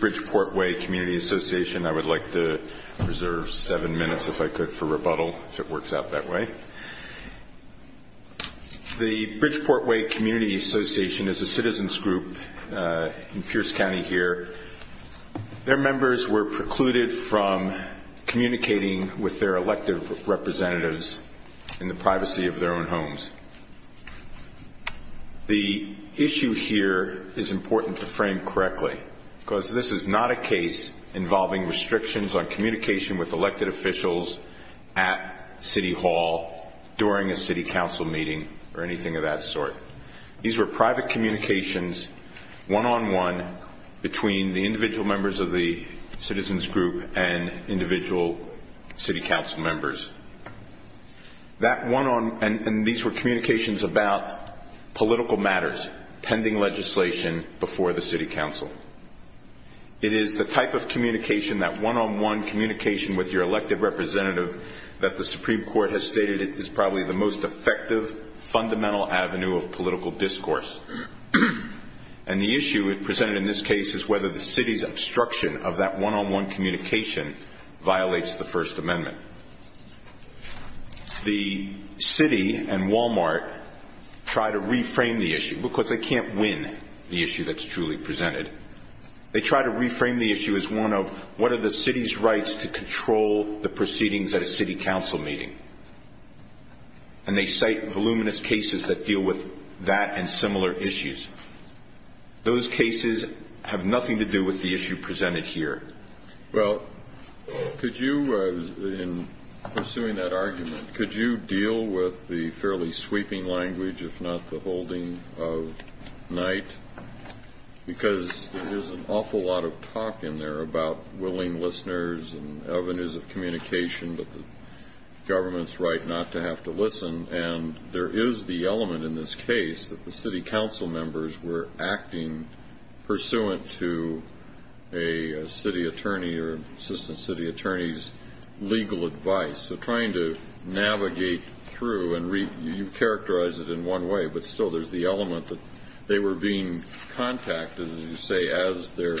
Bridgeport Way Community Association The Bridgeport Way Community Association is a citizens group in Pierce County here. Their members were precluded from communicating with their elective representatives in the privacy of their own homes. The issue here is important to frame correctly, because this is not a case involving restrictions on communication with elected officials at City Hall during a City Council meeting or anything of that sort. These were private communications, one-on-one, between the individual members of the citizens group and individual City Council members. And these were communications about political matters pending legislation before the City Council. It is the type of communication, that one-on-one communication with your elective representative, that the Supreme Court has stated is probably the most effective fundamental avenue of political discourse. And the issue presented in this case is whether the City's obstruction of that one-on-one communication violates the First Amendment. The City and Walmart try to reframe the issue, because they can't win the issue that's truly presented. They try to reframe the issue as one of, what are the City's rights to control the proceedings at a City Council meeting? And they cite voluminous cases that deal with that and similar issues. Those cases have nothing to do with the issue presented here. Well, could you, in pursuing that argument, could you deal with the fairly sweeping language, if not the holding of night? Because there's an awful lot of talk in there about willing listeners and avenues of communication, but the government's right not to have to listen. And there is the element in this case that the City Council members were acting pursuant to a City attorney or Assistant City Attorney's legal advice. So trying to navigate through and read, you've characterized it in one way, but still there's the element that they were being contacted, as you say, as their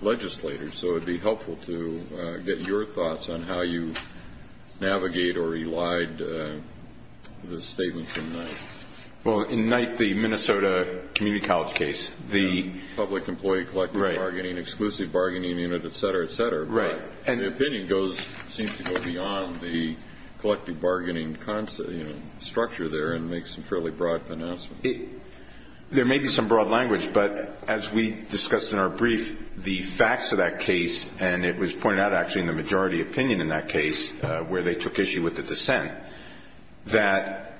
legislators. So it would be helpful to get your thoughts on how you navigate or relied the statement from night. Well, in night, the Minnesota Community College case, the public employee collective bargaining, exclusive bargaining unit, et cetera, et cetera. Right. And the opinion seems to go beyond the collective bargaining structure there and make some fairly broad announcements. There may be some broad language, but as we discussed in our brief, the facts of that case, and it was pointed out actually in the majority opinion in that case where they took issue with the dissent, that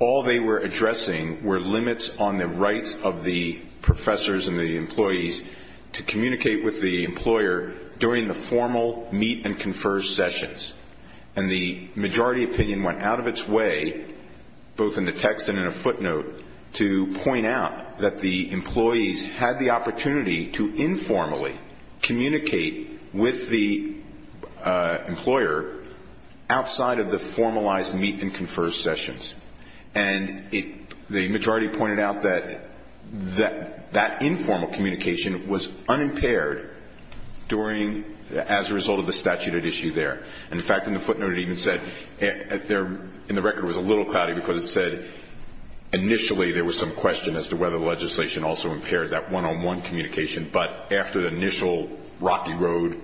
all they were addressing were limits on the rights of the professors and the employees to communicate with the employer during the formal meet-and-confer sessions. And the majority opinion went out of its way, both in the text and in a footnote, to point out that the employees had the opportunity to informally communicate with the employer outside of the formalized meet-and-confer sessions. And the majority pointed out that that informal communication was unimpaired as a result of the statute at issue there. In fact, in the footnote it even said, in the record it was a little cloudy because it said, initially there was some question as to whether the legislation also impaired that one-on-one communication, but after the initial rocky road,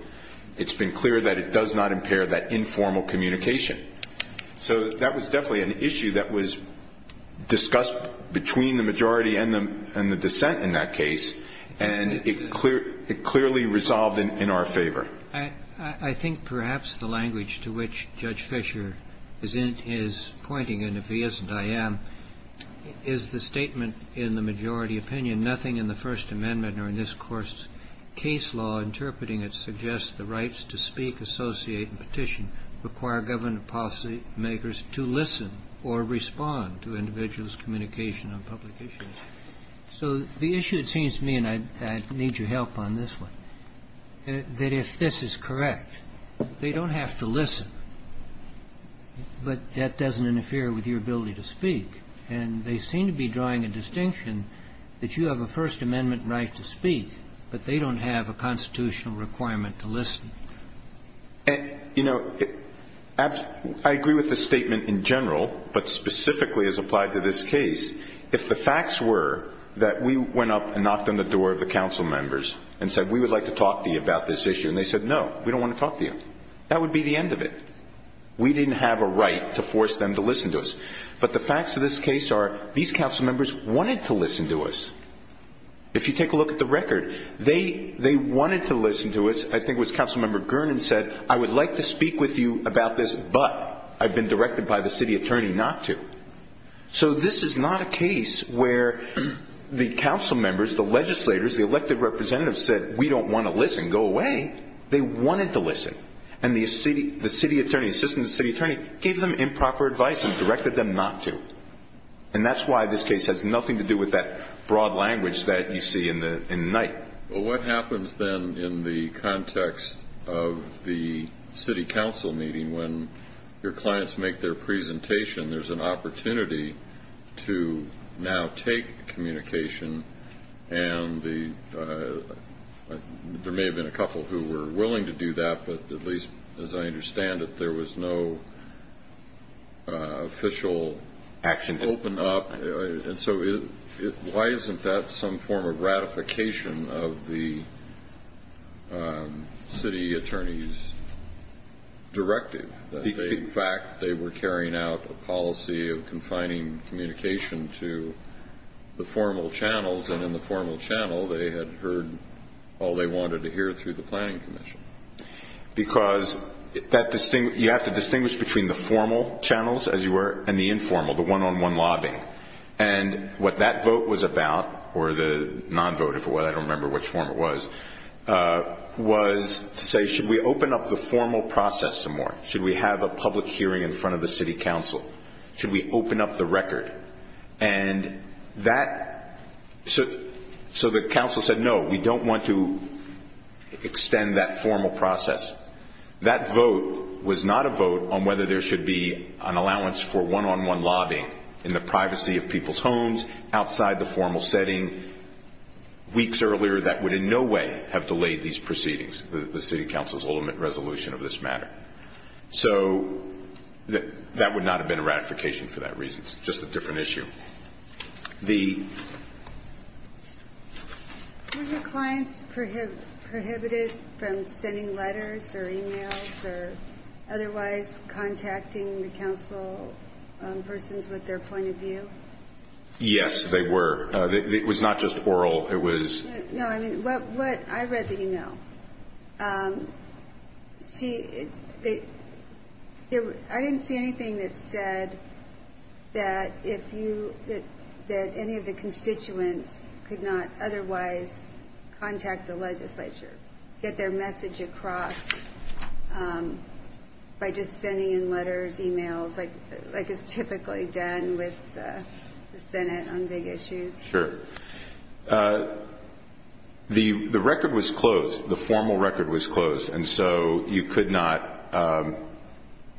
it's been clear that it does not impair that informal communication. So that was definitely an issue that was discussed between the majority and the dissent in that case, and it clearly resolved in our favor. I think perhaps the language to which Judge Fischer is pointing, and if he isn't, I am, is the statement in the majority opinion, nothing in the First Amendment or in this Court's case law interpreting it suggests the rights to speak, associate, and petition require government policy makers to listen or respond to individuals' communication on public issues. So the issue, it seems to me, and I need your help on this one, that if this is correct, they don't have to listen, but that doesn't interfere with your ability to speak. And they seem to be drawing a distinction that you have a First Amendment right to speak, but they don't have a constitutional requirement to listen. And, you know, I agree with the statement in general, but specifically as applied to this case, if the facts were that we went up and knocked on the door of the council members and said, we would like to talk to you about this issue, and they said, no, we don't want to talk to you, that would be the end of it. We didn't have a right to force them to listen to us. But the facts of this case are these council members wanted to listen to us. If you take a look at the record, they wanted to listen to us. I think it was Council Member Gernon said, I would like to speak with you about this, but I've been directed by the city attorney not to. So this is not a case where the council members, the legislators, the elected representatives said, we don't want to listen, go away. They wanted to listen. And the city attorney, assistant city attorney, gave them improper advice and directed them not to. And that's why this case has nothing to do with that broad language that you see in the night. Well, what happens then in the context of the city council meeting when your clients make their presentation, there's an opportunity to now take communication, and there may have been a couple who were willing to do that, but at least as I understand it, there was no official action opened up. And so why isn't that some form of ratification of the city attorney's directive? In fact, they were carrying out a policy of confining communication to the formal channels, and in the formal channel they had heard all they wanted to hear through the planning commission. Because you have to distinguish between the formal channels, as you were, and the informal, the one-on-one lobbying. And what that vote was about, or the non-vote, I don't remember which form it was, was to say, should we open up the formal process some more? Should we have a public hearing in front of the city council? Should we open up the record? And so the council said, no, we don't want to extend that formal process. That vote was not a vote on whether there should be an allowance for one-on-one lobbying in the privacy of people's homes, outside the formal setting, weeks earlier, that would in no way have delayed these proceedings, the city council's ultimate resolution of this matter. So that would not have been a ratification for that reason. It's just a different issue. The ---- Were your clients prohibited from sending letters or e-mails or otherwise contacting the council persons with their point of view? Yes, they were. It was not just oral. It was ---- I read the e-mail. I didn't see anything that said that any of the constituents could not otherwise contact the legislature, get their message across by just sending in letters, e-mails, like is typically done with the Senate on big issues. Sure. The record was closed. The formal record was closed, and so you could not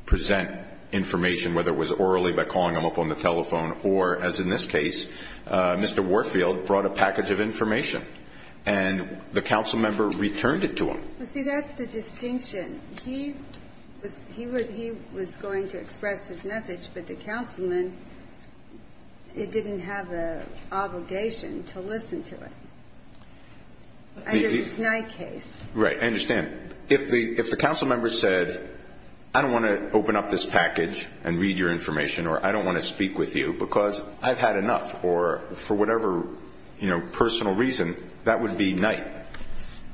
present information, whether it was orally by calling them up on the telephone or, as in this case, Mr. Warfield brought a package of information, and the council member returned it to him. See, that's the distinction. He was going to express his message, but the councilman, it didn't have the obligation to listen to it. And it's a Knight case. Right. I understand. If the council member said, I don't want to open up this package and read your information or I don't want to speak with you because I've had enough or for whatever, you know, personal reason, that would be Knight.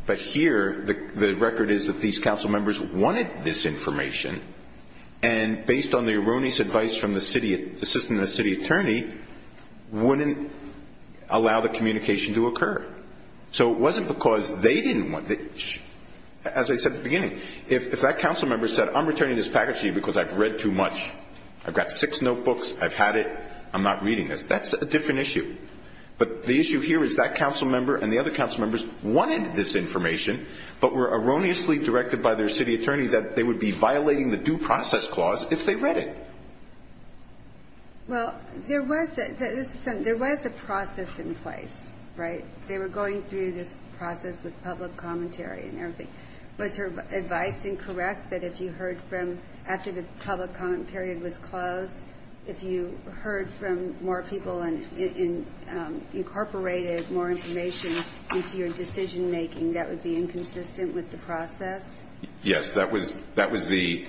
But here, the record is that these council members wanted this information, and based on the erroneous advice from the city assistant and the city attorney, wouldn't allow the communication to occur. So it wasn't because they didn't want it. As I said at the beginning, if that council member said, I'm returning this package to you because I've read too much, I've got six notebooks, I've had it, I'm not reading this, that's a different issue. But the issue here is that council member and the other council members wanted this information but were erroneously directed by their city attorney that they would be violating the due process clause if they read it. Well, there was a process in place, right? They were going through this process with public commentary and everything. Was her advice incorrect that if you heard from, after the public comment period was closed, if you heard from more people and incorporated more information into your decision-making, that would be inconsistent with the process? Yes. That was the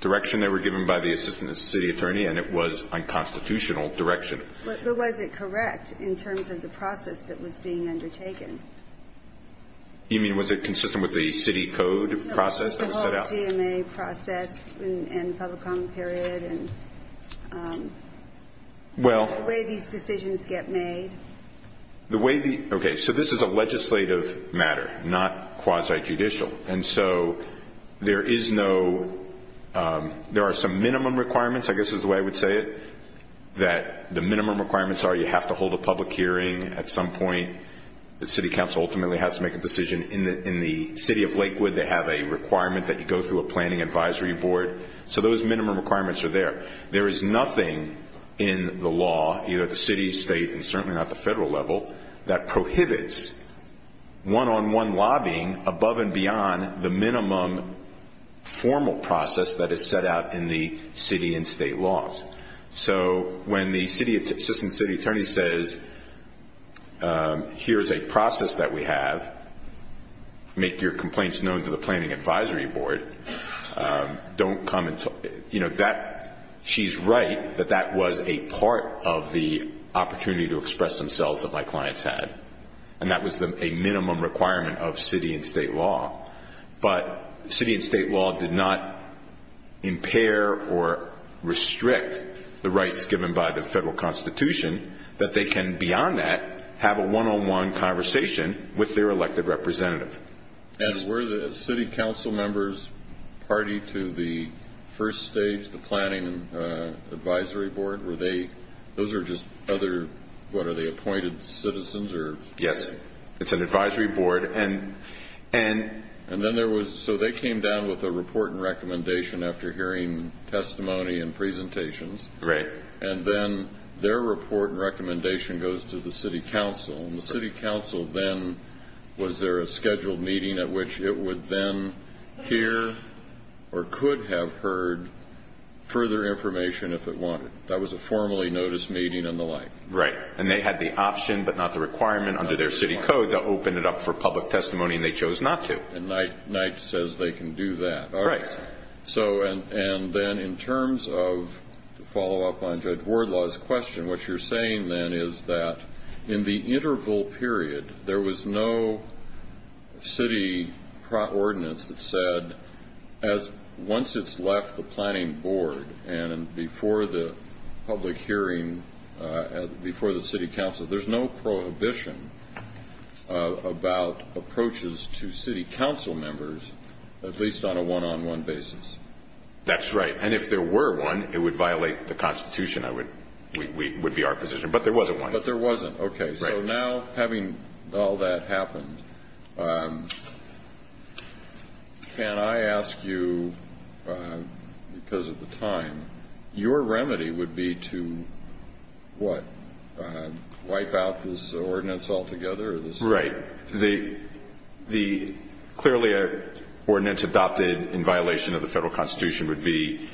direction they were given by the assistant city attorney, and it was unconstitutional direction. But was it correct in terms of the process that was being undertaken? You mean was it consistent with the city code process that was set out? The GMA process and public comment period and the way these decisions get made? Okay, so this is a legislative matter, not quasi-judicial. And so there are some minimum requirements, I guess is the way I would say it, that the minimum requirements are you have to hold a public hearing at some point. In the city of Lakewood, they have a requirement that you go through a planning advisory board. So those minimum requirements are there. There is nothing in the law, either the city, state, and certainly not the federal level, that prohibits one-on-one lobbying above and beyond the minimum formal process that is set out in the city and state laws. So when the assistant city attorney says, here is a process that we have, make your complaints known to the planning advisory board, don't come and talk. You know, she's right that that was a part of the opportunity to express themselves that my clients had. And that was a minimum requirement of city and state law. But city and state law did not impair or restrict the rights given by the federal constitution that they can, beyond that, have a one-on-one conversation with their elected representative. And were the city council members party to the first stage, the planning advisory board? Were they, those are just other, what, are they appointed citizens? Yes, it's an advisory board. And then there was, so they came down with a report and recommendation after hearing testimony and presentations. Right. And then their report and recommendation goes to the city council. And the city council then, was there a scheduled meeting at which it would then hear or could have heard further information if it wanted? That was a formally noticed meeting and the like. Right. And they had the option but not the requirement under their city code to open it up for public testimony. And they chose not to. And Knight says they can do that. Right. So, and then in terms of, to follow up on Judge Wardlaw's question, what you're saying then is that in the interval period, there was no city ordinance that said once it's left the planning board and before the public hearing, before the city council, there's no prohibition about approaches to city council members, at least on a one-on-one basis. That's right. And if there were one, it would violate the Constitution, would be our position. But there wasn't one. But there wasn't. Okay. Right. So now, having all that happened, can I ask you, because of the time, your remedy would be to what, wipe out this ordinance altogether? Right. The clearly ordinance adopted in violation of the Federal Constitution would be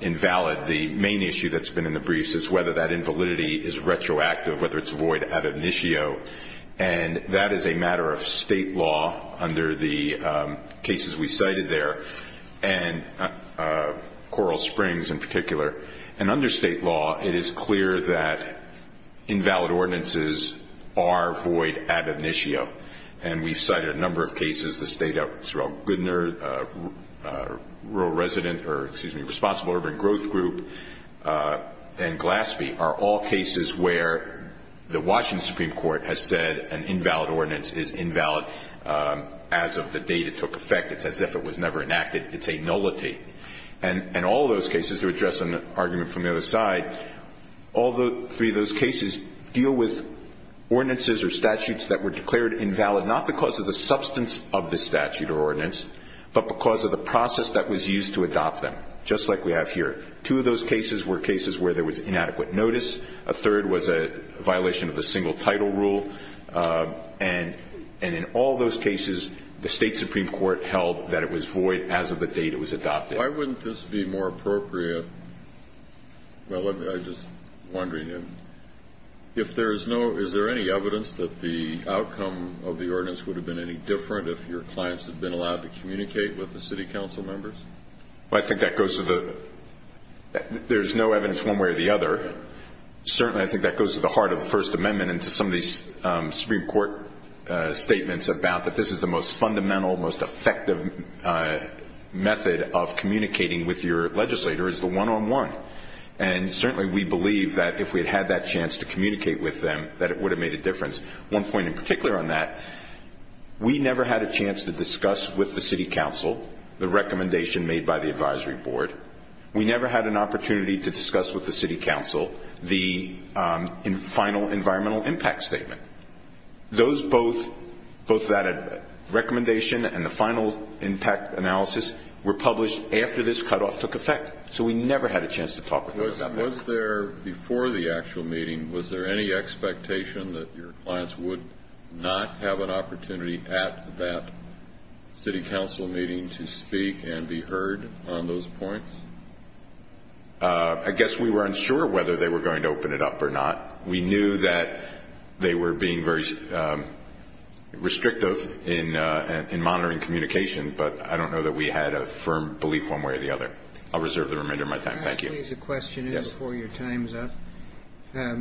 invalid. The main issue that's been in the briefs is whether that invalidity is retroactive, whether it's void ad initio. And that is a matter of state law under the cases we cited there, and Coral Springs in particular. And under state law, it is clear that invalid ordinances are void ad initio. And we've cited a number of cases. The State Outreach, Goodner, Responsible Urban Growth Group, and Glaspie are all cases where the Washington Supreme Court has said an invalid ordinance is invalid as of the date it took effect. It's as if it was never enacted. It's a nullity. And all those cases, to address an argument from the other side, all three of those cases deal with ordinances or statutes that were declared invalid, not because of the substance of the statute or ordinance, but because of the process that was used to adopt them, just like we have here. Two of those cases were cases where there was inadequate notice. A third was a violation of the single title rule. And in all those cases, the State Supreme Court held that it was void as of the date it was adopted. Why wouldn't this be more appropriate? Well, I'm just wondering if there is no, is there any evidence that the outcome of the ordinance would have been any different if your clients had been allowed to communicate with the city council members? Well, I think that goes to the, there's no evidence one way or the other. Certainly, I think that goes to the heart of the First Amendment and to some of these Supreme Court statements about that this is the most fundamental, most effective method of communicating with your legislator is the one-on-one. And certainly, we believe that if we had that chance to communicate with them, that it would have made a difference. One point in particular on that, we never had a chance to discuss with the city council the recommendation made by the advisory board. We never had an opportunity to discuss with the city council the final environmental impact statement. Those both, both that recommendation and the final impact analysis were published after this cutoff took effect. So, we never had a chance to talk with them about that. Was there, before the actual meeting, was there any expectation that your clients would not have an opportunity at that city council meeting to speak and be heard on those points? I guess we weren't sure whether they were going to open it up or not. We knew that they were being very restrictive in monitoring communication, but I don't know that we had a firm belief one way or the other. I'll reserve the remainder of my time. Thank you. Can I ask a question before your time is up? Yes.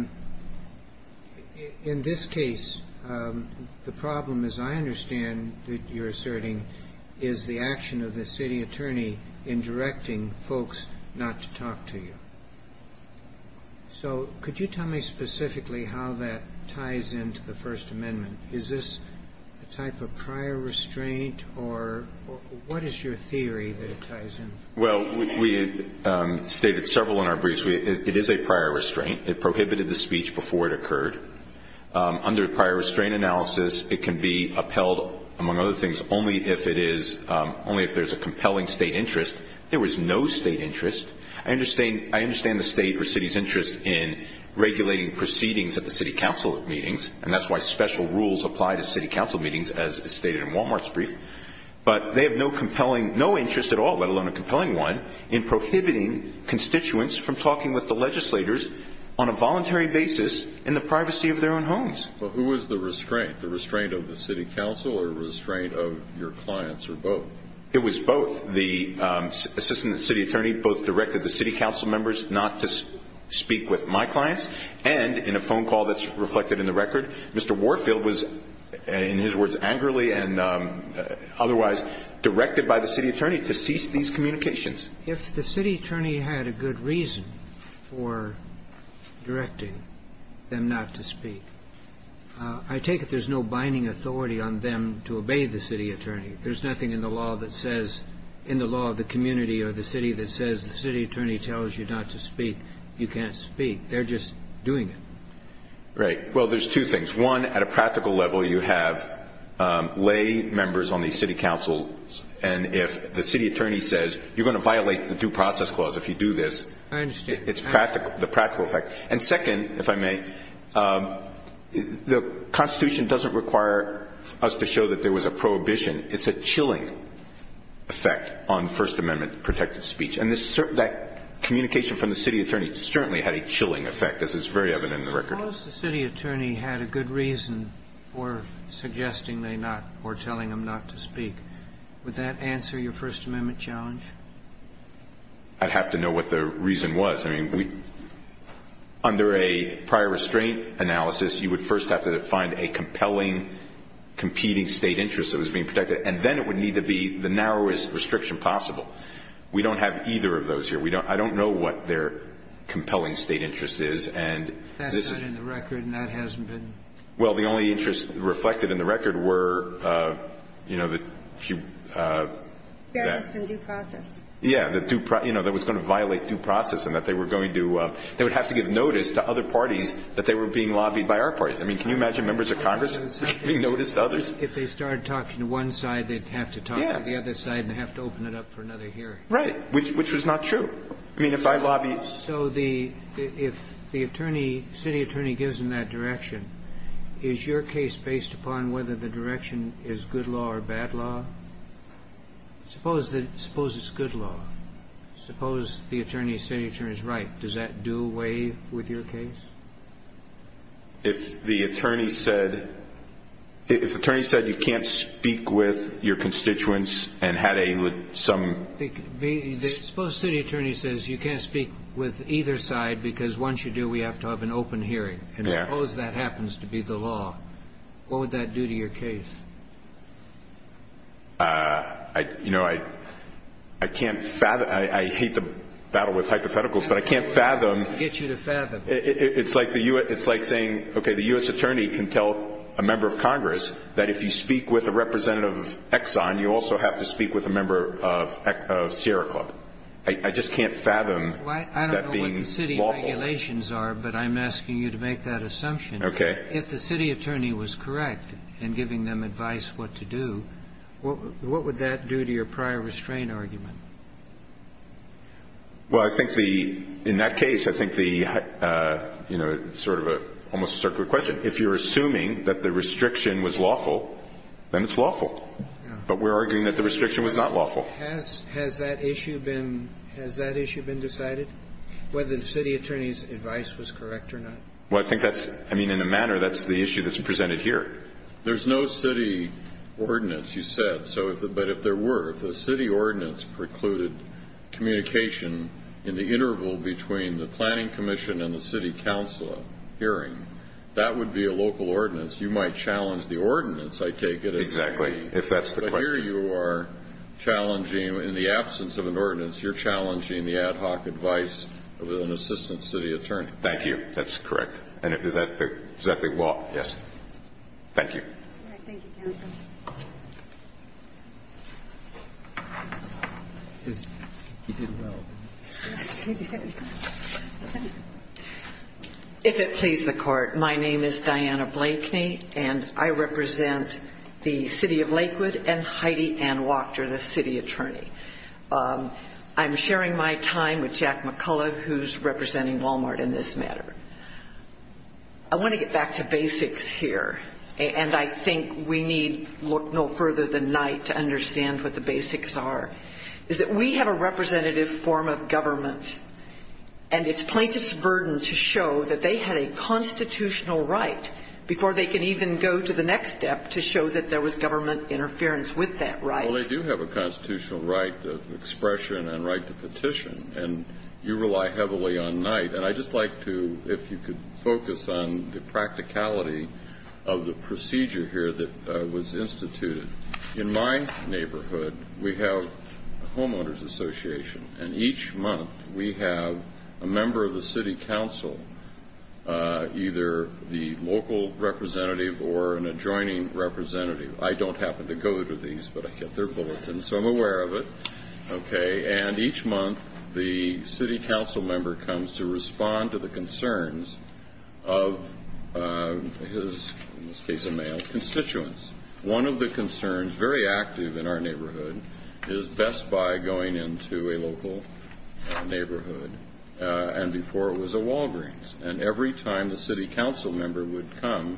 In this case, the problem, as I understand that you're asserting, is the action of the city attorney in directing folks not to talk to you. So, could you tell me specifically how that ties into the First Amendment? Is this a type of prior restraint or what is your theory that it ties in? Well, we stated several in our briefs. It is a prior restraint. It prohibited the speech before it occurred. Under prior restraint analysis, it can be upheld, among other things, only if it is, only if there's a compelling state interest. There was no state interest. I understand the state or city's interest in regulating proceedings at the city council meetings, and that's why special rules apply to city council meetings, as stated in Walmart's brief, but they have no compelling, no interest at all, let alone a compelling one, in prohibiting constituents from talking with the legislators on a voluntary basis in the privacy of their own homes. Well, who was the restraint? The restraint of the city council or restraint of your clients or both? It was both. The assistant city attorney both directed the city council members not to speak with my clients, and in a phone call that's reflected in the record, Mr. Warfield was, in his words angrily and otherwise, directed by the city attorney to cease these communications. If the city attorney had a good reason for directing them not to speak, I take it there's no binding authority on them to obey the city attorney. There's nothing in the law that says, in the law of the community or the city that says the city attorney tells you not to speak, you can't speak. They're just doing it. Right. Well, there's two things. One, at a practical level, you have lay members on the city council, and if the city attorney says you're going to violate the due process clause if you do this, it's practical, the practical effect. And second, if I may, the Constitution doesn't require us to show that there was a prohibition. It's a chilling effect on First Amendment protected speech. And that communication from the city attorney certainly had a chilling effect, as it's very evident in the record. Suppose the city attorney had a good reason for suggesting they not or telling them not to speak. Would that answer your First Amendment challenge? I'd have to know what the reason was. And then, of course, we have this type of interesting example of competing State interests that was being protected. And then it would need to be the narrowest restriction possible. We don't have either of those here. We don't – I don't know what their compelling State interest is, and this is – That's not in the record, and that hasn't been? Well, the only interest reflected in the record were, you know, the two – Fairness and due process. Yeah, the due – you know, that was going to violate due process and that they were going to – they would have to give notice to other parties that they were being lobbied by our parties. I mean, can you imagine members of Congress being noticed by others? If they started talking to one side, they'd have to talk to the other side and have to open it up for another hearing. Right, which was not true. I mean, if I lobbied – So the – if the attorney, city attorney, gives them that direction, is your case based upon whether the direction is good law or bad law? Suppose that – suppose it's good law. Suppose the attorney, city attorney, is right. Does that do away with your case? If the attorney said – if the attorney said you can't speak with your constituents and had a – with some – Suppose city attorney says you can't speak with either side because once you do, we have to have an open hearing. Yeah. And suppose that happens to be the law. What would that do to your case? I – you know, I can't fathom – I hate to battle with hypotheticals, but I can't fathom – I'll get you to fathom. It's like the U.S. – it's like saying, okay, the U.S. attorney can tell a member of Congress that if you speak with a representative of Exxon, you also have to speak with a member of Sierra Club. I just can't fathom that being lawful. Well, I don't know what the city regulations are, but I'm asking you to make that assumption. If the city attorney was correct in giving them advice what to do, what would that do to your prior restraint argument? Well, I think the – in that case, I think the – you know, it's sort of a – almost a circular question. If you're assuming that the restriction was lawful, then it's lawful. But we're arguing that the restriction was not lawful. Has that issue been – has that issue been decided, whether the city attorney's advice was correct or not? Well, I think that's – I mean, in a manner, that's the issue that's presented here. There's no city ordinance, you said. So if – but if there were, if the city ordinance precluded communication in the interval between the planning commission and the city council hearing, that would be a local ordinance. You might challenge the ordinance, I take it. Exactly. If that's the question. But here you are challenging – in the absence of an ordinance, you're challenging the ad hoc advice of an assistant city attorney. Thank you. That's correct. And is that the – is that the law? Yes. Thank you. All right. Thank you, counsel. He did well. Yes, he did. If it please the Court, my name is Diana Blakeney, and I represent the city of Lakewood and Heidi Ann Wachter, the city attorney. I'm sharing my time with Jack McCullough, who's representing Walmart in this matter. I want to get back to basics here, and I think we need no further than night to understand what the basics are, is that we have a representative form of government, and it's plaintiff's burden to show that they had a constitutional right before they could even go to the next step to show that there was government interference with that right. Well, they do have a constitutional right of expression and right to petition, and you rely heavily on night. And I'd just like to – if you could focus on the practicality of the procedure here that was instituted. In my neighborhood, we have a homeowner's association, and each month we have a member of the city council, either the local representative or an adjoining representative. I don't happen to go to these, but I get their bulletins, so I'm aware of it. Okay? And each month the city council member comes to respond to the concerns of his, in this case a male, constituents. One of the concerns, very active in our neighborhood, is Best Buy going into a local neighborhood, and before it was a Walgreens. And every time the city council member would come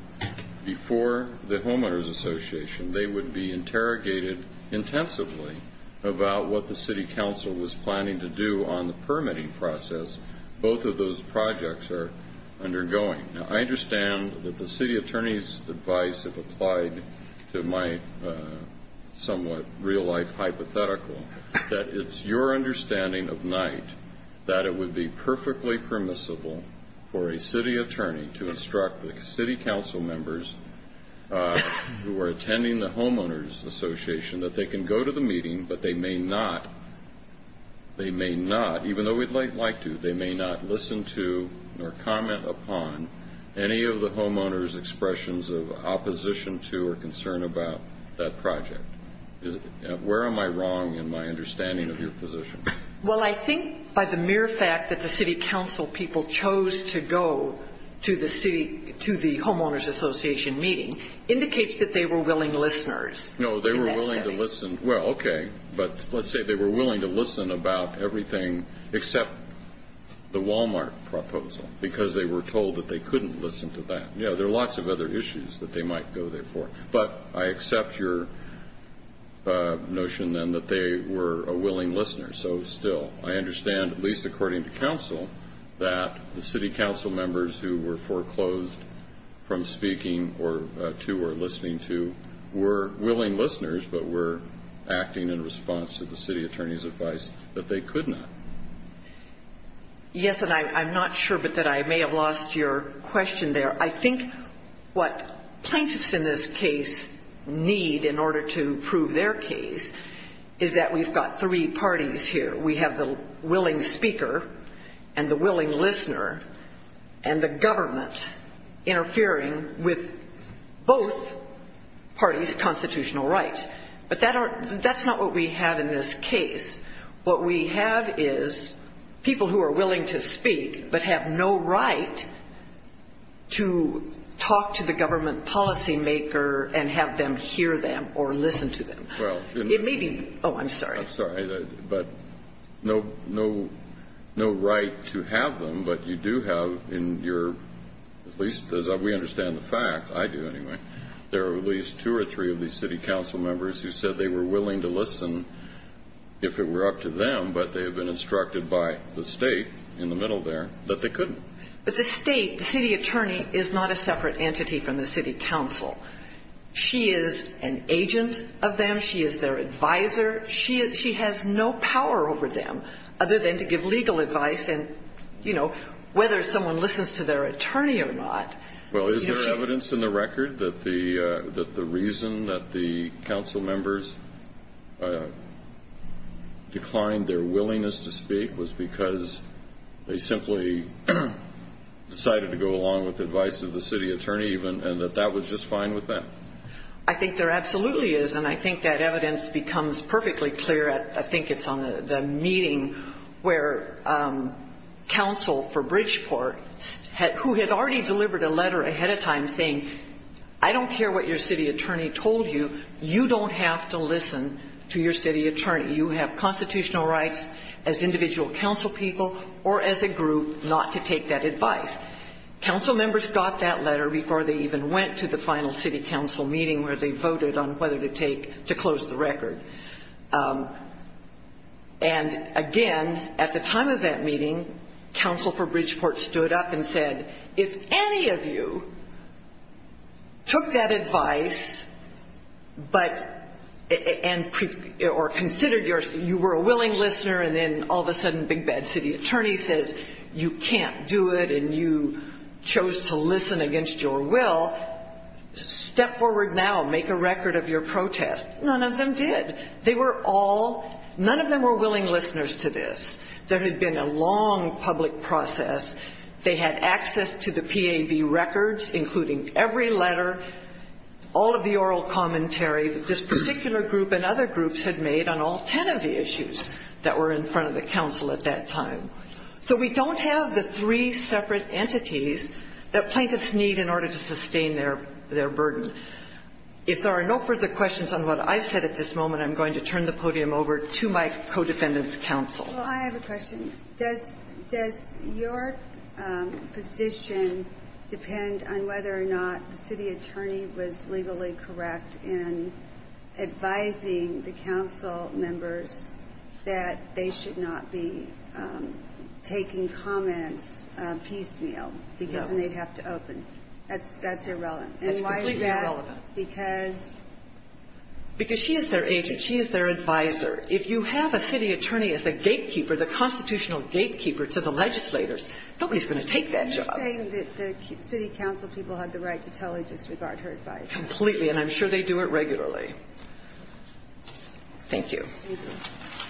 before the homeowner's association, they would be interrogated intensively about what the city council was planning to do on the permitting process. Both of those projects are undergoing. Now, I understand that the city attorney's advice, if applied to my somewhat real-life hypothetical, that it's your understanding of night that it would be for a city attorney to instruct the city council members who are attending the homeowner's association that they can go to the meeting, but they may not, even though we'd like to, they may not listen to or comment upon any of the homeowner's expressions of opposition to or concern about that project. Where am I wrong in my understanding of your position? Well, I think by the mere fact that the city council people chose to go to the homeowner's association meeting indicates that they were willing listeners. No, they were willing to listen. Well, okay. But let's say they were willing to listen about everything except the Walmart proposal because they were told that they couldn't listen to that. Yeah, there are lots of other issues that they might go there for. But I accept your notion, then, that they were a willing listener. So, still, I understand, at least according to counsel, that the city council members who were foreclosed from speaking to or listening to were willing listeners but were acting in response to the city attorney's advice that they could not. Yes, and I'm not sure but that I may have lost your question there. I think what plaintiffs in this case need in order to prove their case is that now we've got three parties here. We have the willing speaker and the willing listener and the government interfering with both parties' constitutional rights. But that's not what we have in this case. What we have is people who are willing to speak but have no right to talk to the government policymaker and have them hear them or listen to them. Oh, I'm sorry. I'm sorry. But no right to have them, but you do have in your, at least as we understand the fact, I do anyway, there are at least two or three of these city council members who said they were willing to listen if it were up to them, but they have been instructed by the state in the middle there that they couldn't. But the state, the city attorney, is not a separate entity from the city council. She is an agent of them. She is their advisor. She has no power over them other than to give legal advice and, you know, whether someone listens to their attorney or not. Well, is there evidence in the record that the reason that the council members declined their willingness to speak was because they simply decided to go along with advice of the city attorney even and that that was just fine with them? I think there absolutely is, and I think that evidence becomes perfectly clear. I think it's on the meeting where council for Bridgeport, who had already delivered a letter ahead of time saying, I don't care what your city attorney told you, you don't have to listen to your city attorney. You have constitutional rights as individual council people or as a group not to take that advice. Council members got that letter before they even went to the final city council meeting where they voted on whether to take, to close the record. And, again, at the time of that meeting, council for Bridgeport stood up and said, if any of you took that advice but or considered you were a willing listener and then all of a sudden big bad city attorney says you can't do it and you chose to listen against your will, step forward now, make a record of your protest. None of them did. They were all, none of them were willing listeners to this. There had been a long public process. They had access to the PAB records, including every letter, all of the oral commentary that this particular group and other groups had made on all ten of the issues that were in front of the council at that time. So we don't have the three separate entities that plaintiffs need in order to sustain their burden. If there are no further questions on what I've said at this moment, I'm going to turn the podium over to my co-defendant's counsel. Well, I have a question. Does your position depend on whether or not the city attorney was legally correct in advising the council members that they should not be taking comments piecemeal? No. Because then they'd have to open. That's irrelevant. That's completely irrelevant. And why is that? Because? Because she is their agent. She is their advisor. If you have a city attorney as a gatekeeper, the constitutional gatekeeper to the legislators, nobody is going to take that job. You're saying that the city council people had the right to tell her to disregard her advice? Completely. And I'm sure they do it regularly. Thank you. Thank you. Please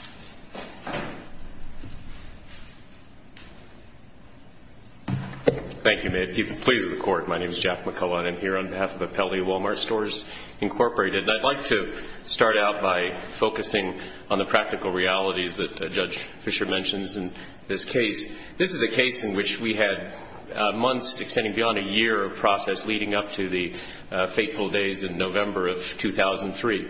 be seated. Thank you, ma'am. Please record. My name is Jack McCullough. I'm here on behalf of Appellee Wal-Mart Stores Incorporated. And I'd like to start out by focusing on the practical realities that Judge Fisher mentions in this case. This is a case in which we had months extending beyond a year of process leading up to the fateful days in November of 2003.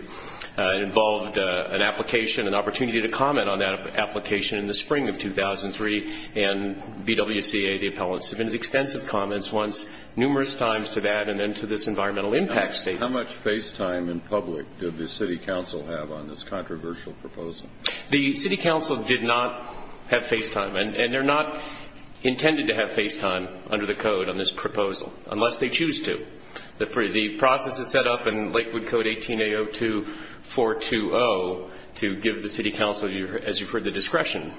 It involved an application, an opportunity to comment on that application in the spring of 2003. And BWCA, the appellant, submitted extensive comments once, numerous times to that and then to this environmental impact statement. How much face time in public did the city council have on this controversial proposal? The city council did not have face time. And they're not intended to have face time under the code on this proposal unless they choose to. The process is set up in Lakewood Code 18A02-420 to give the city council, as you've heard, the discretion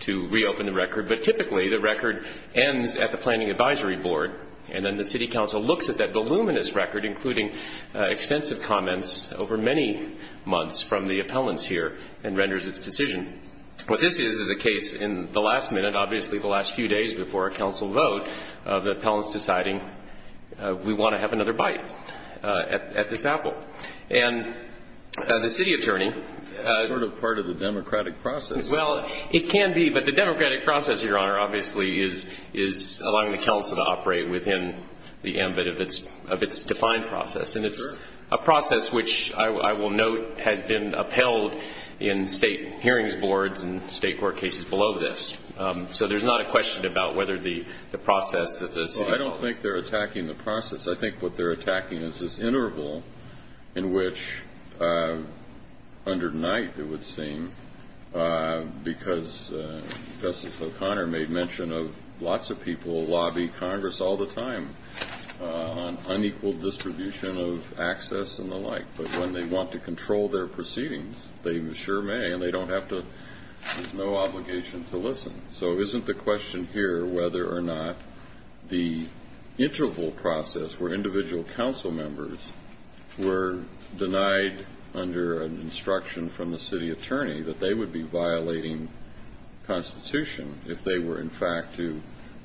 to reopen the record. But typically the record ends at the Planning Advisory Board and then the city council looks at that voluminous record, including extensive comments over many months from the appellants here, and renders its decision. What this is is a case in the last minute, obviously the last few days before a council vote, the appellant's deciding we want to have another bite at this apple. And the city attorney... It's sort of part of the democratic process. Well, it can be. But the democratic process, Your Honor, obviously is allowing the council to operate within the ambit of its defined process. And it's a process which I will note has been upheld in state hearings boards and state court cases below this. So there's not a question about whether the process that the city... Well, I don't think they're attacking the process. I think what they're attacking is this interval in which, under night it would seem, because Justice O'Connor made mention of lots of people lobby Congress all the time on unequal distribution of access and the like. But when they want to control their proceedings, they sure may, and they don't have to... So isn't the question here whether or not the interval process where individual council members were denied under an instruction from the city attorney that they would be violating Constitution if they were, in fact, to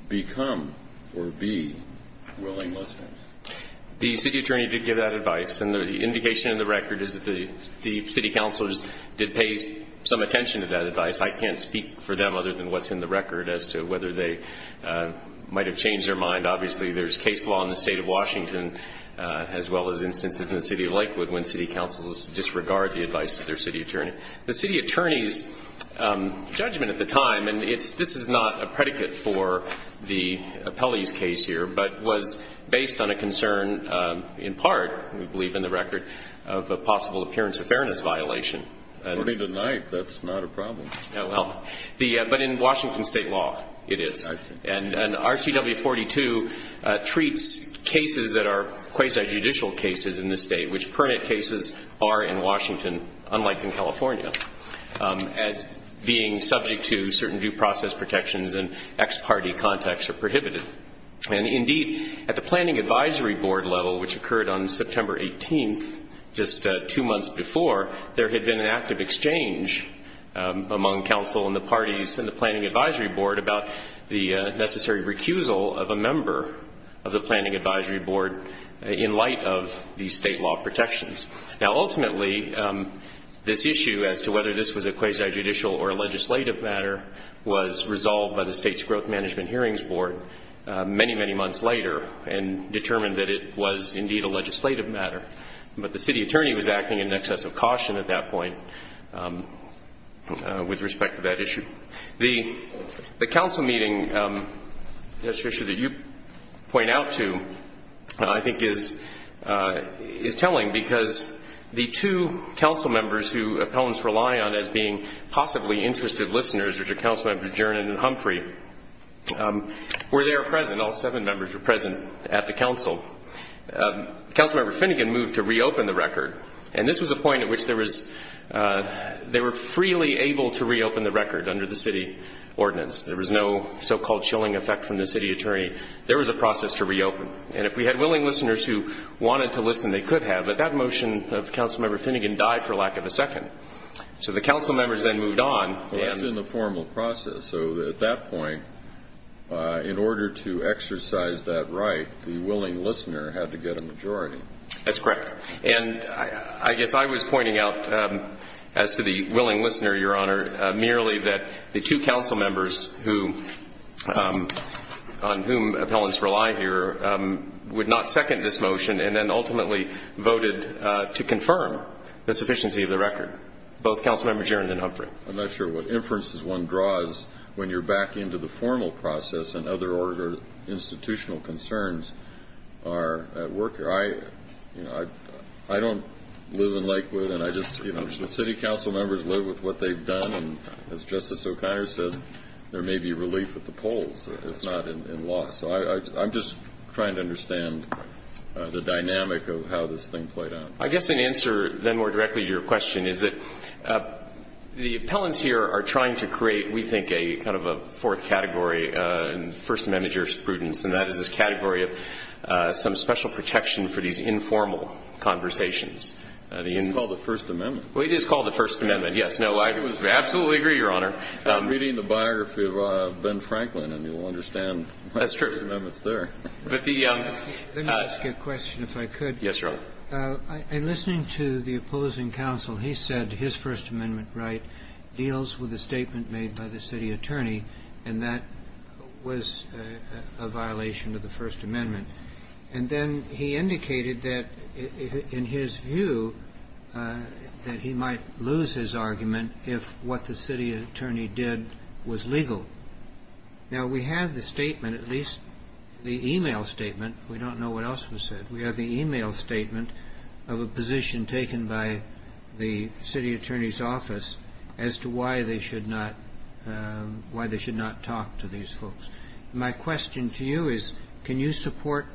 become or be willing listeners? The city attorney did give that advice. And the indication in the record is that the city councilors did pay some attention to that advice. I can't speak for them other than what's in the record as to whether they might have changed their mind. Obviously, there's case law in the State of Washington as well as instances in the City of Lakewood when city councilors disregard the advice of their city attorney. The city attorney's judgment at the time, and this is not a predicate for the appellee's case here, but was based on a concern in part, we believe in the record, of a possible appearance of fairness violation. According to Knight, that's not a problem. No, but in Washington State law, it is. I see. And RCW 42 treats cases that are quasi-judicial cases in the State, which permanent cases are in Washington, unlike in California, as being subject to certain due process protections and ex parte contacts are prohibited. And indeed, at the Planning Advisory Board level, which occurred on September 18th, just two months before, there had been an active exchange among council and the parties in the Planning Advisory Board about the necessary recusal of a member of the Planning Advisory Board in light of these state law protections. Now, ultimately, this issue as to whether this was a quasi-judicial or a legislative matter was resolved by the State's Growth Management Hearings Board many, many months later and determined that it was indeed a legislative matter. But the city attorney was acting in excess of caution at that point with respect to that issue. The council meeting, Mr. Fisher, that you point out to, I think is telling because the two council members who appellants rely on as being possibly interested listeners, which are Council Members Jernan and Humphrey, were there present. All seven members were present at the council. Council Member Finnegan moved to reopen the record. And this was a point at which they were freely able to reopen the record under the city ordinance. There was no so-called chilling effect from the city attorney. There was a process to reopen. And if we had willing listeners who wanted to listen, they could have. But that motion of Council Member Finnegan died for lack of a second. So the council members then moved on. Well, that's in the formal process. So at that point, in order to exercise that right, the willing listener had to get a majority. That's correct. And I guess I was pointing out as to the willing listener, Your Honor, merely that the two council members on whom appellants rely here would not second this motion and then ultimately voted to confirm the sufficiency of the record, both Council Members Jernan and Humphrey. I'm not sure what inferences one draws when you're back into the formal process and other institutional concerns are at work here. I don't live in Lakewood. And the city council members live with what they've done. And as Justice O'Connor said, there may be relief at the polls. It's not in law. So I'm just trying to understand the dynamic of how this thing played out. I guess an answer then more directly to your question is that the appellants here are trying to create, we think, a kind of a fourth category in First Amendment jurisprudence, and that is this category of some special protection for these informal conversations. It's called the First Amendment. Well, it is called the First Amendment, yes. No, I absolutely agree, Your Honor. I'm reading the biography of Ben Franklin, and you'll understand why the First Amendment's there. That's true. Let me ask you a question, if I could. Yes, Your Honor. In listening to the opposing counsel, he said his First Amendment right deals with a statement made by the city attorney, and that was a violation of the First Amendment. And then he indicated that in his view that he might lose his argument if what the city attorney did was legal. Now, we have the statement, at least the email statement. We don't know what else was said. We have the email statement of a position taken by the city attorney's office as to why they should not talk to these folks. My question to you is can you support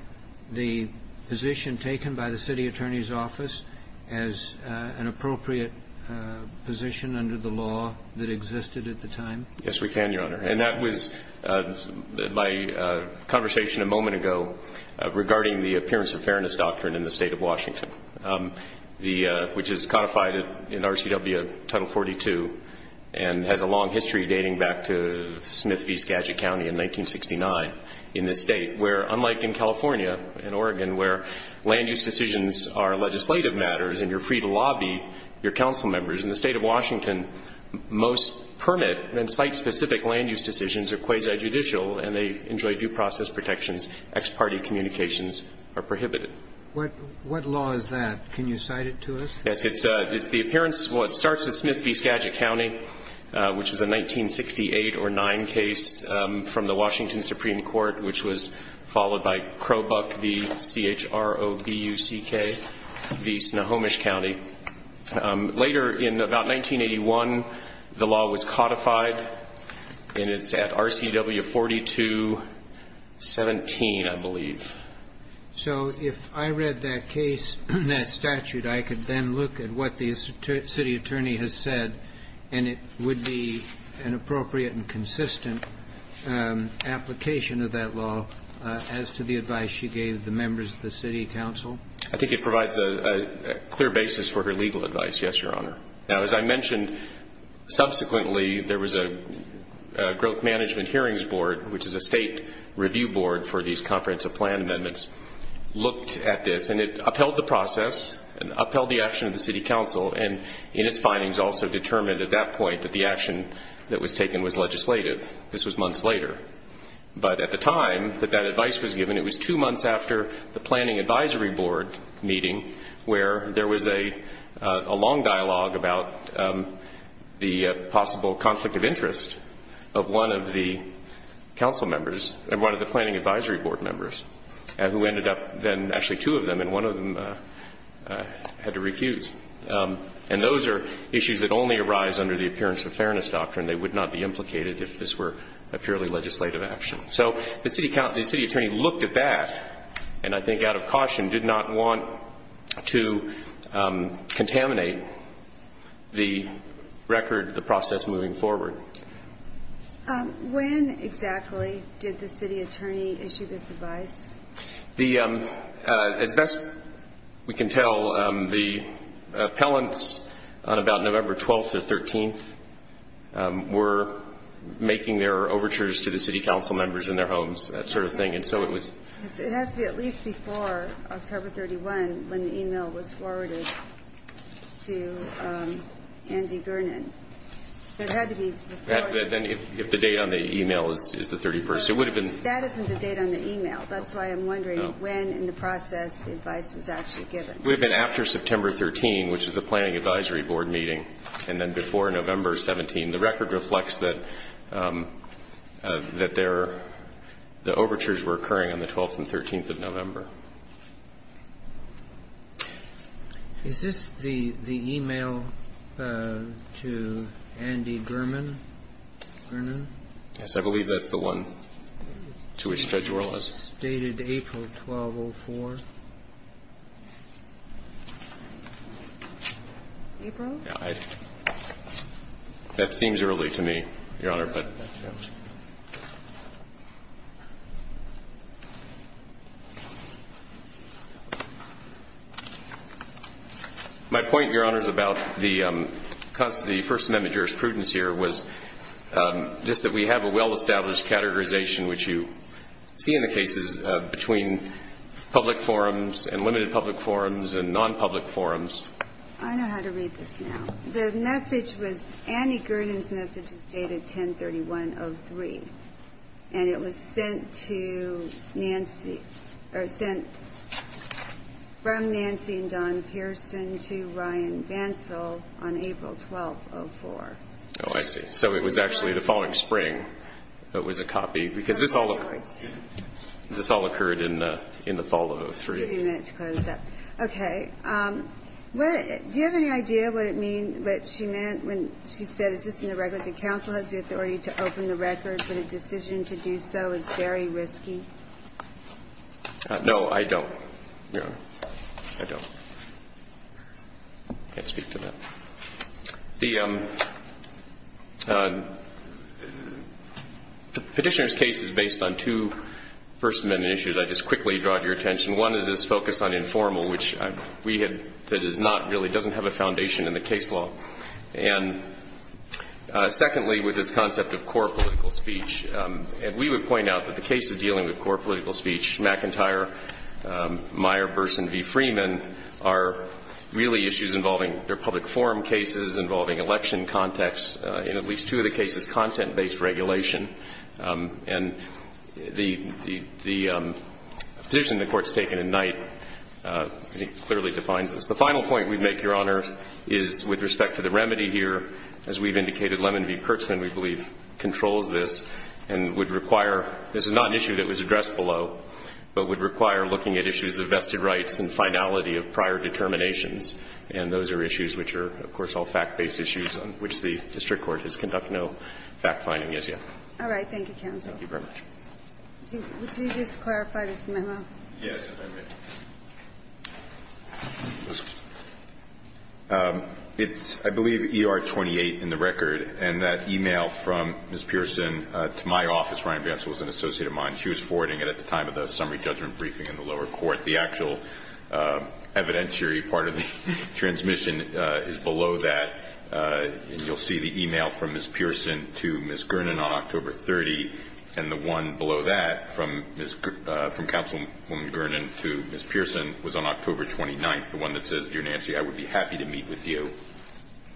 the position taken by the city attorney's office as an appropriate position under the law that existed at the time? Yes, we can, Your Honor. And that was my conversation a moment ago regarding the appearance of fairness doctrine in the state of Washington, which is codified in RCW Title 42 and has a long history dating back to Smith v. Skagit County in 1969 in this state where, unlike in California and Oregon where land use decisions are legislative matters and you're free to lobby your council members, in the state of Washington, most permit and site-specific land use decisions are quasi-judicial and they enjoy due process protections. Ex parte communications are prohibited. What law is that? Can you cite it to us? Yes. It's the appearance. Well, it starts with Smith v. Skagit County, which is a 1968 or 9 case from the Washington Supreme Court, which was followed by Crowbuck v. C-H-R-O-B-U-C-K v. Snohomish County. Later, in about 1981, the law was codified, and it's at RCW 42-17, I believe. So if I read that case, that statute, I could then look at what the city attorney has said, and it would be an appropriate and consistent application of that law as to the advice you gave the members of the city council? I think it provides a clear basis for her legal advice, yes, Your Honor. Now, as I mentioned, subsequently, there was a growth management hearings board, which is a state review board for these comprehensive plan amendments, looked at this, and it upheld the process and upheld the action of the city council, and its findings also determined at that point that the action that was taken was legislative. This was months later. But at the time that that advice was given, it was two months after the planning advisory board meeting where there was a long dialogue about the possible conflict of interest of one of the council members and one of the planning advisory board members, who ended up then actually two of them, and one of them had to refuse. And those are issues that only arise under the appearance of fairness doctrine. They would not be implicated if this were a purely legislative action. So the city attorney looked at that, and I think out of caution, did not want to contaminate the record, the process moving forward. When exactly did the city attorney issue this advice? As best we can tell, the appellants on about November 12th or 13th were making their overtures to the city council members in their homes, that sort of thing. It has to be at least before October 31 when the e-mail was forwarded to Andy Gernon. It had to be before. If the date on the e-mail is the 31st. That isn't the date on the e-mail. That's why I'm wondering when in the process the advice was actually given. It would have been after September 13, which is the planning advisory board meeting, and then before November 17. The record reflects that the overtures were occurring on the 12th and 13th of November. Is this the e-mail to Andy Gernon? Yes. I believe that's the one to which Federal is. It's dated April 1204. April? That seems early to me, Your Honor. My point, Your Honor, is about the first amendment jurisprudence here was just that we have a well-established categorization, which you see in the cases between public forums and limited public forums and non-public forums. I know how to read this now. The message was Andy Gernon's message was dated 10-31-03. And it was sent from Nancy and Don Pearson to Ryan Bansal on April 12-04. Oh, I see. So it was actually the following spring that was a copy because this all occurred in the fall of 03. I'll give you a minute to close up. Okay. Do you have any idea what it meant when she said, is this in the record that counsel has the authority to open the record, but a decision to do so is very risky? No, I don't, Your Honor. I don't. I can't speak to that. The Petitioner's case is based on two first amendment issues I just quickly draw to your attention. One is this focus on informal, which we have that is not really, doesn't have a foundation in the case law. And secondly, with this concept of core political speech, and we would point out that the cases dealing with core political speech, McIntyre, Meyer, Burson v. Freeman, are really issues involving their public forum cases, involving election context, in at least two of the cases, content-based regulation. And the position the Court's taken in Knight clearly defines this. The final point we'd make, Your Honor, is with respect to the remedy here, as we've indicated Lemon v. Kurtzman, we believe, controls this and would require, this is not an issue that was addressed below, but would require looking at issues of vested rights and finality of prior determinations. And those are issues which are, of course, all fact-based issues on which the district court has conducted no fact-finding as yet. All right. Thank you, counsel. Thank you very much. Would you just clarify this memo? It's, I believe, ER-28 in the record. And that e-mail from Ms. Pearson to my office, Ryan Vance was an associate of mine. She was forwarding it at the time of the summary judgment briefing in the lower court. The actual evidentiary part of the transmission is below that. And you'll see the e-mail from Ms. Pearson to Ms. Gernon on October 30. And the one below that from Councilwoman Gernon to Ms. Pearson was on October 29th, the one that says, Dear Nancy, I would be happy to meet with you,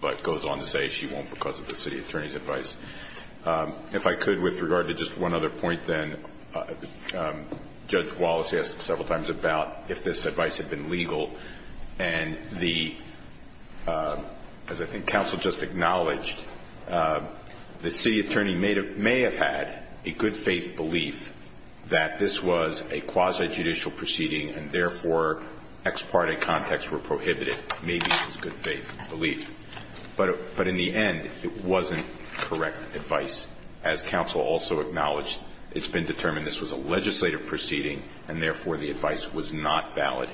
but goes on to say she won't because of the city attorney's advice. If I could, with regard to just one other point, then, Judge Wallace, he asked several times about if this advice had been legal. And the, as I think counsel just acknowledged, the city attorney may have had a good faith belief that this was a quasi-judicial proceeding and, therefore, ex parte context were prohibited. Maybe it was good faith belief. But in the end, it wasn't correct advice. As counsel also acknowledged, it's been determined this was a legislative proceeding and, therefore, the advice was not valid.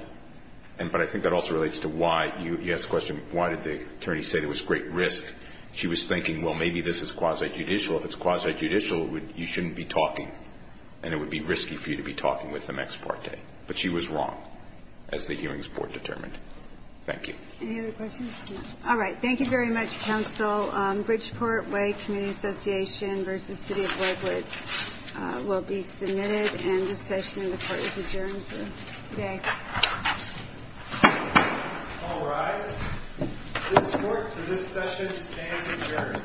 But I think that also relates to why you asked the question, why did the attorney say there was great risk? She was thinking, well, maybe this is quasi-judicial. If it's quasi-judicial, you shouldn't be talking. And it would be risky for you to be talking with them ex parte. But she was wrong, as the hearings board determined. Thank you. Any other questions? No. All right. Thank you very much, counsel. Bridgeport Way Community Association v. City of Broadwood will be submitted. And this session in the court is adjourned for today. All rise. This court for this session stands adjourned.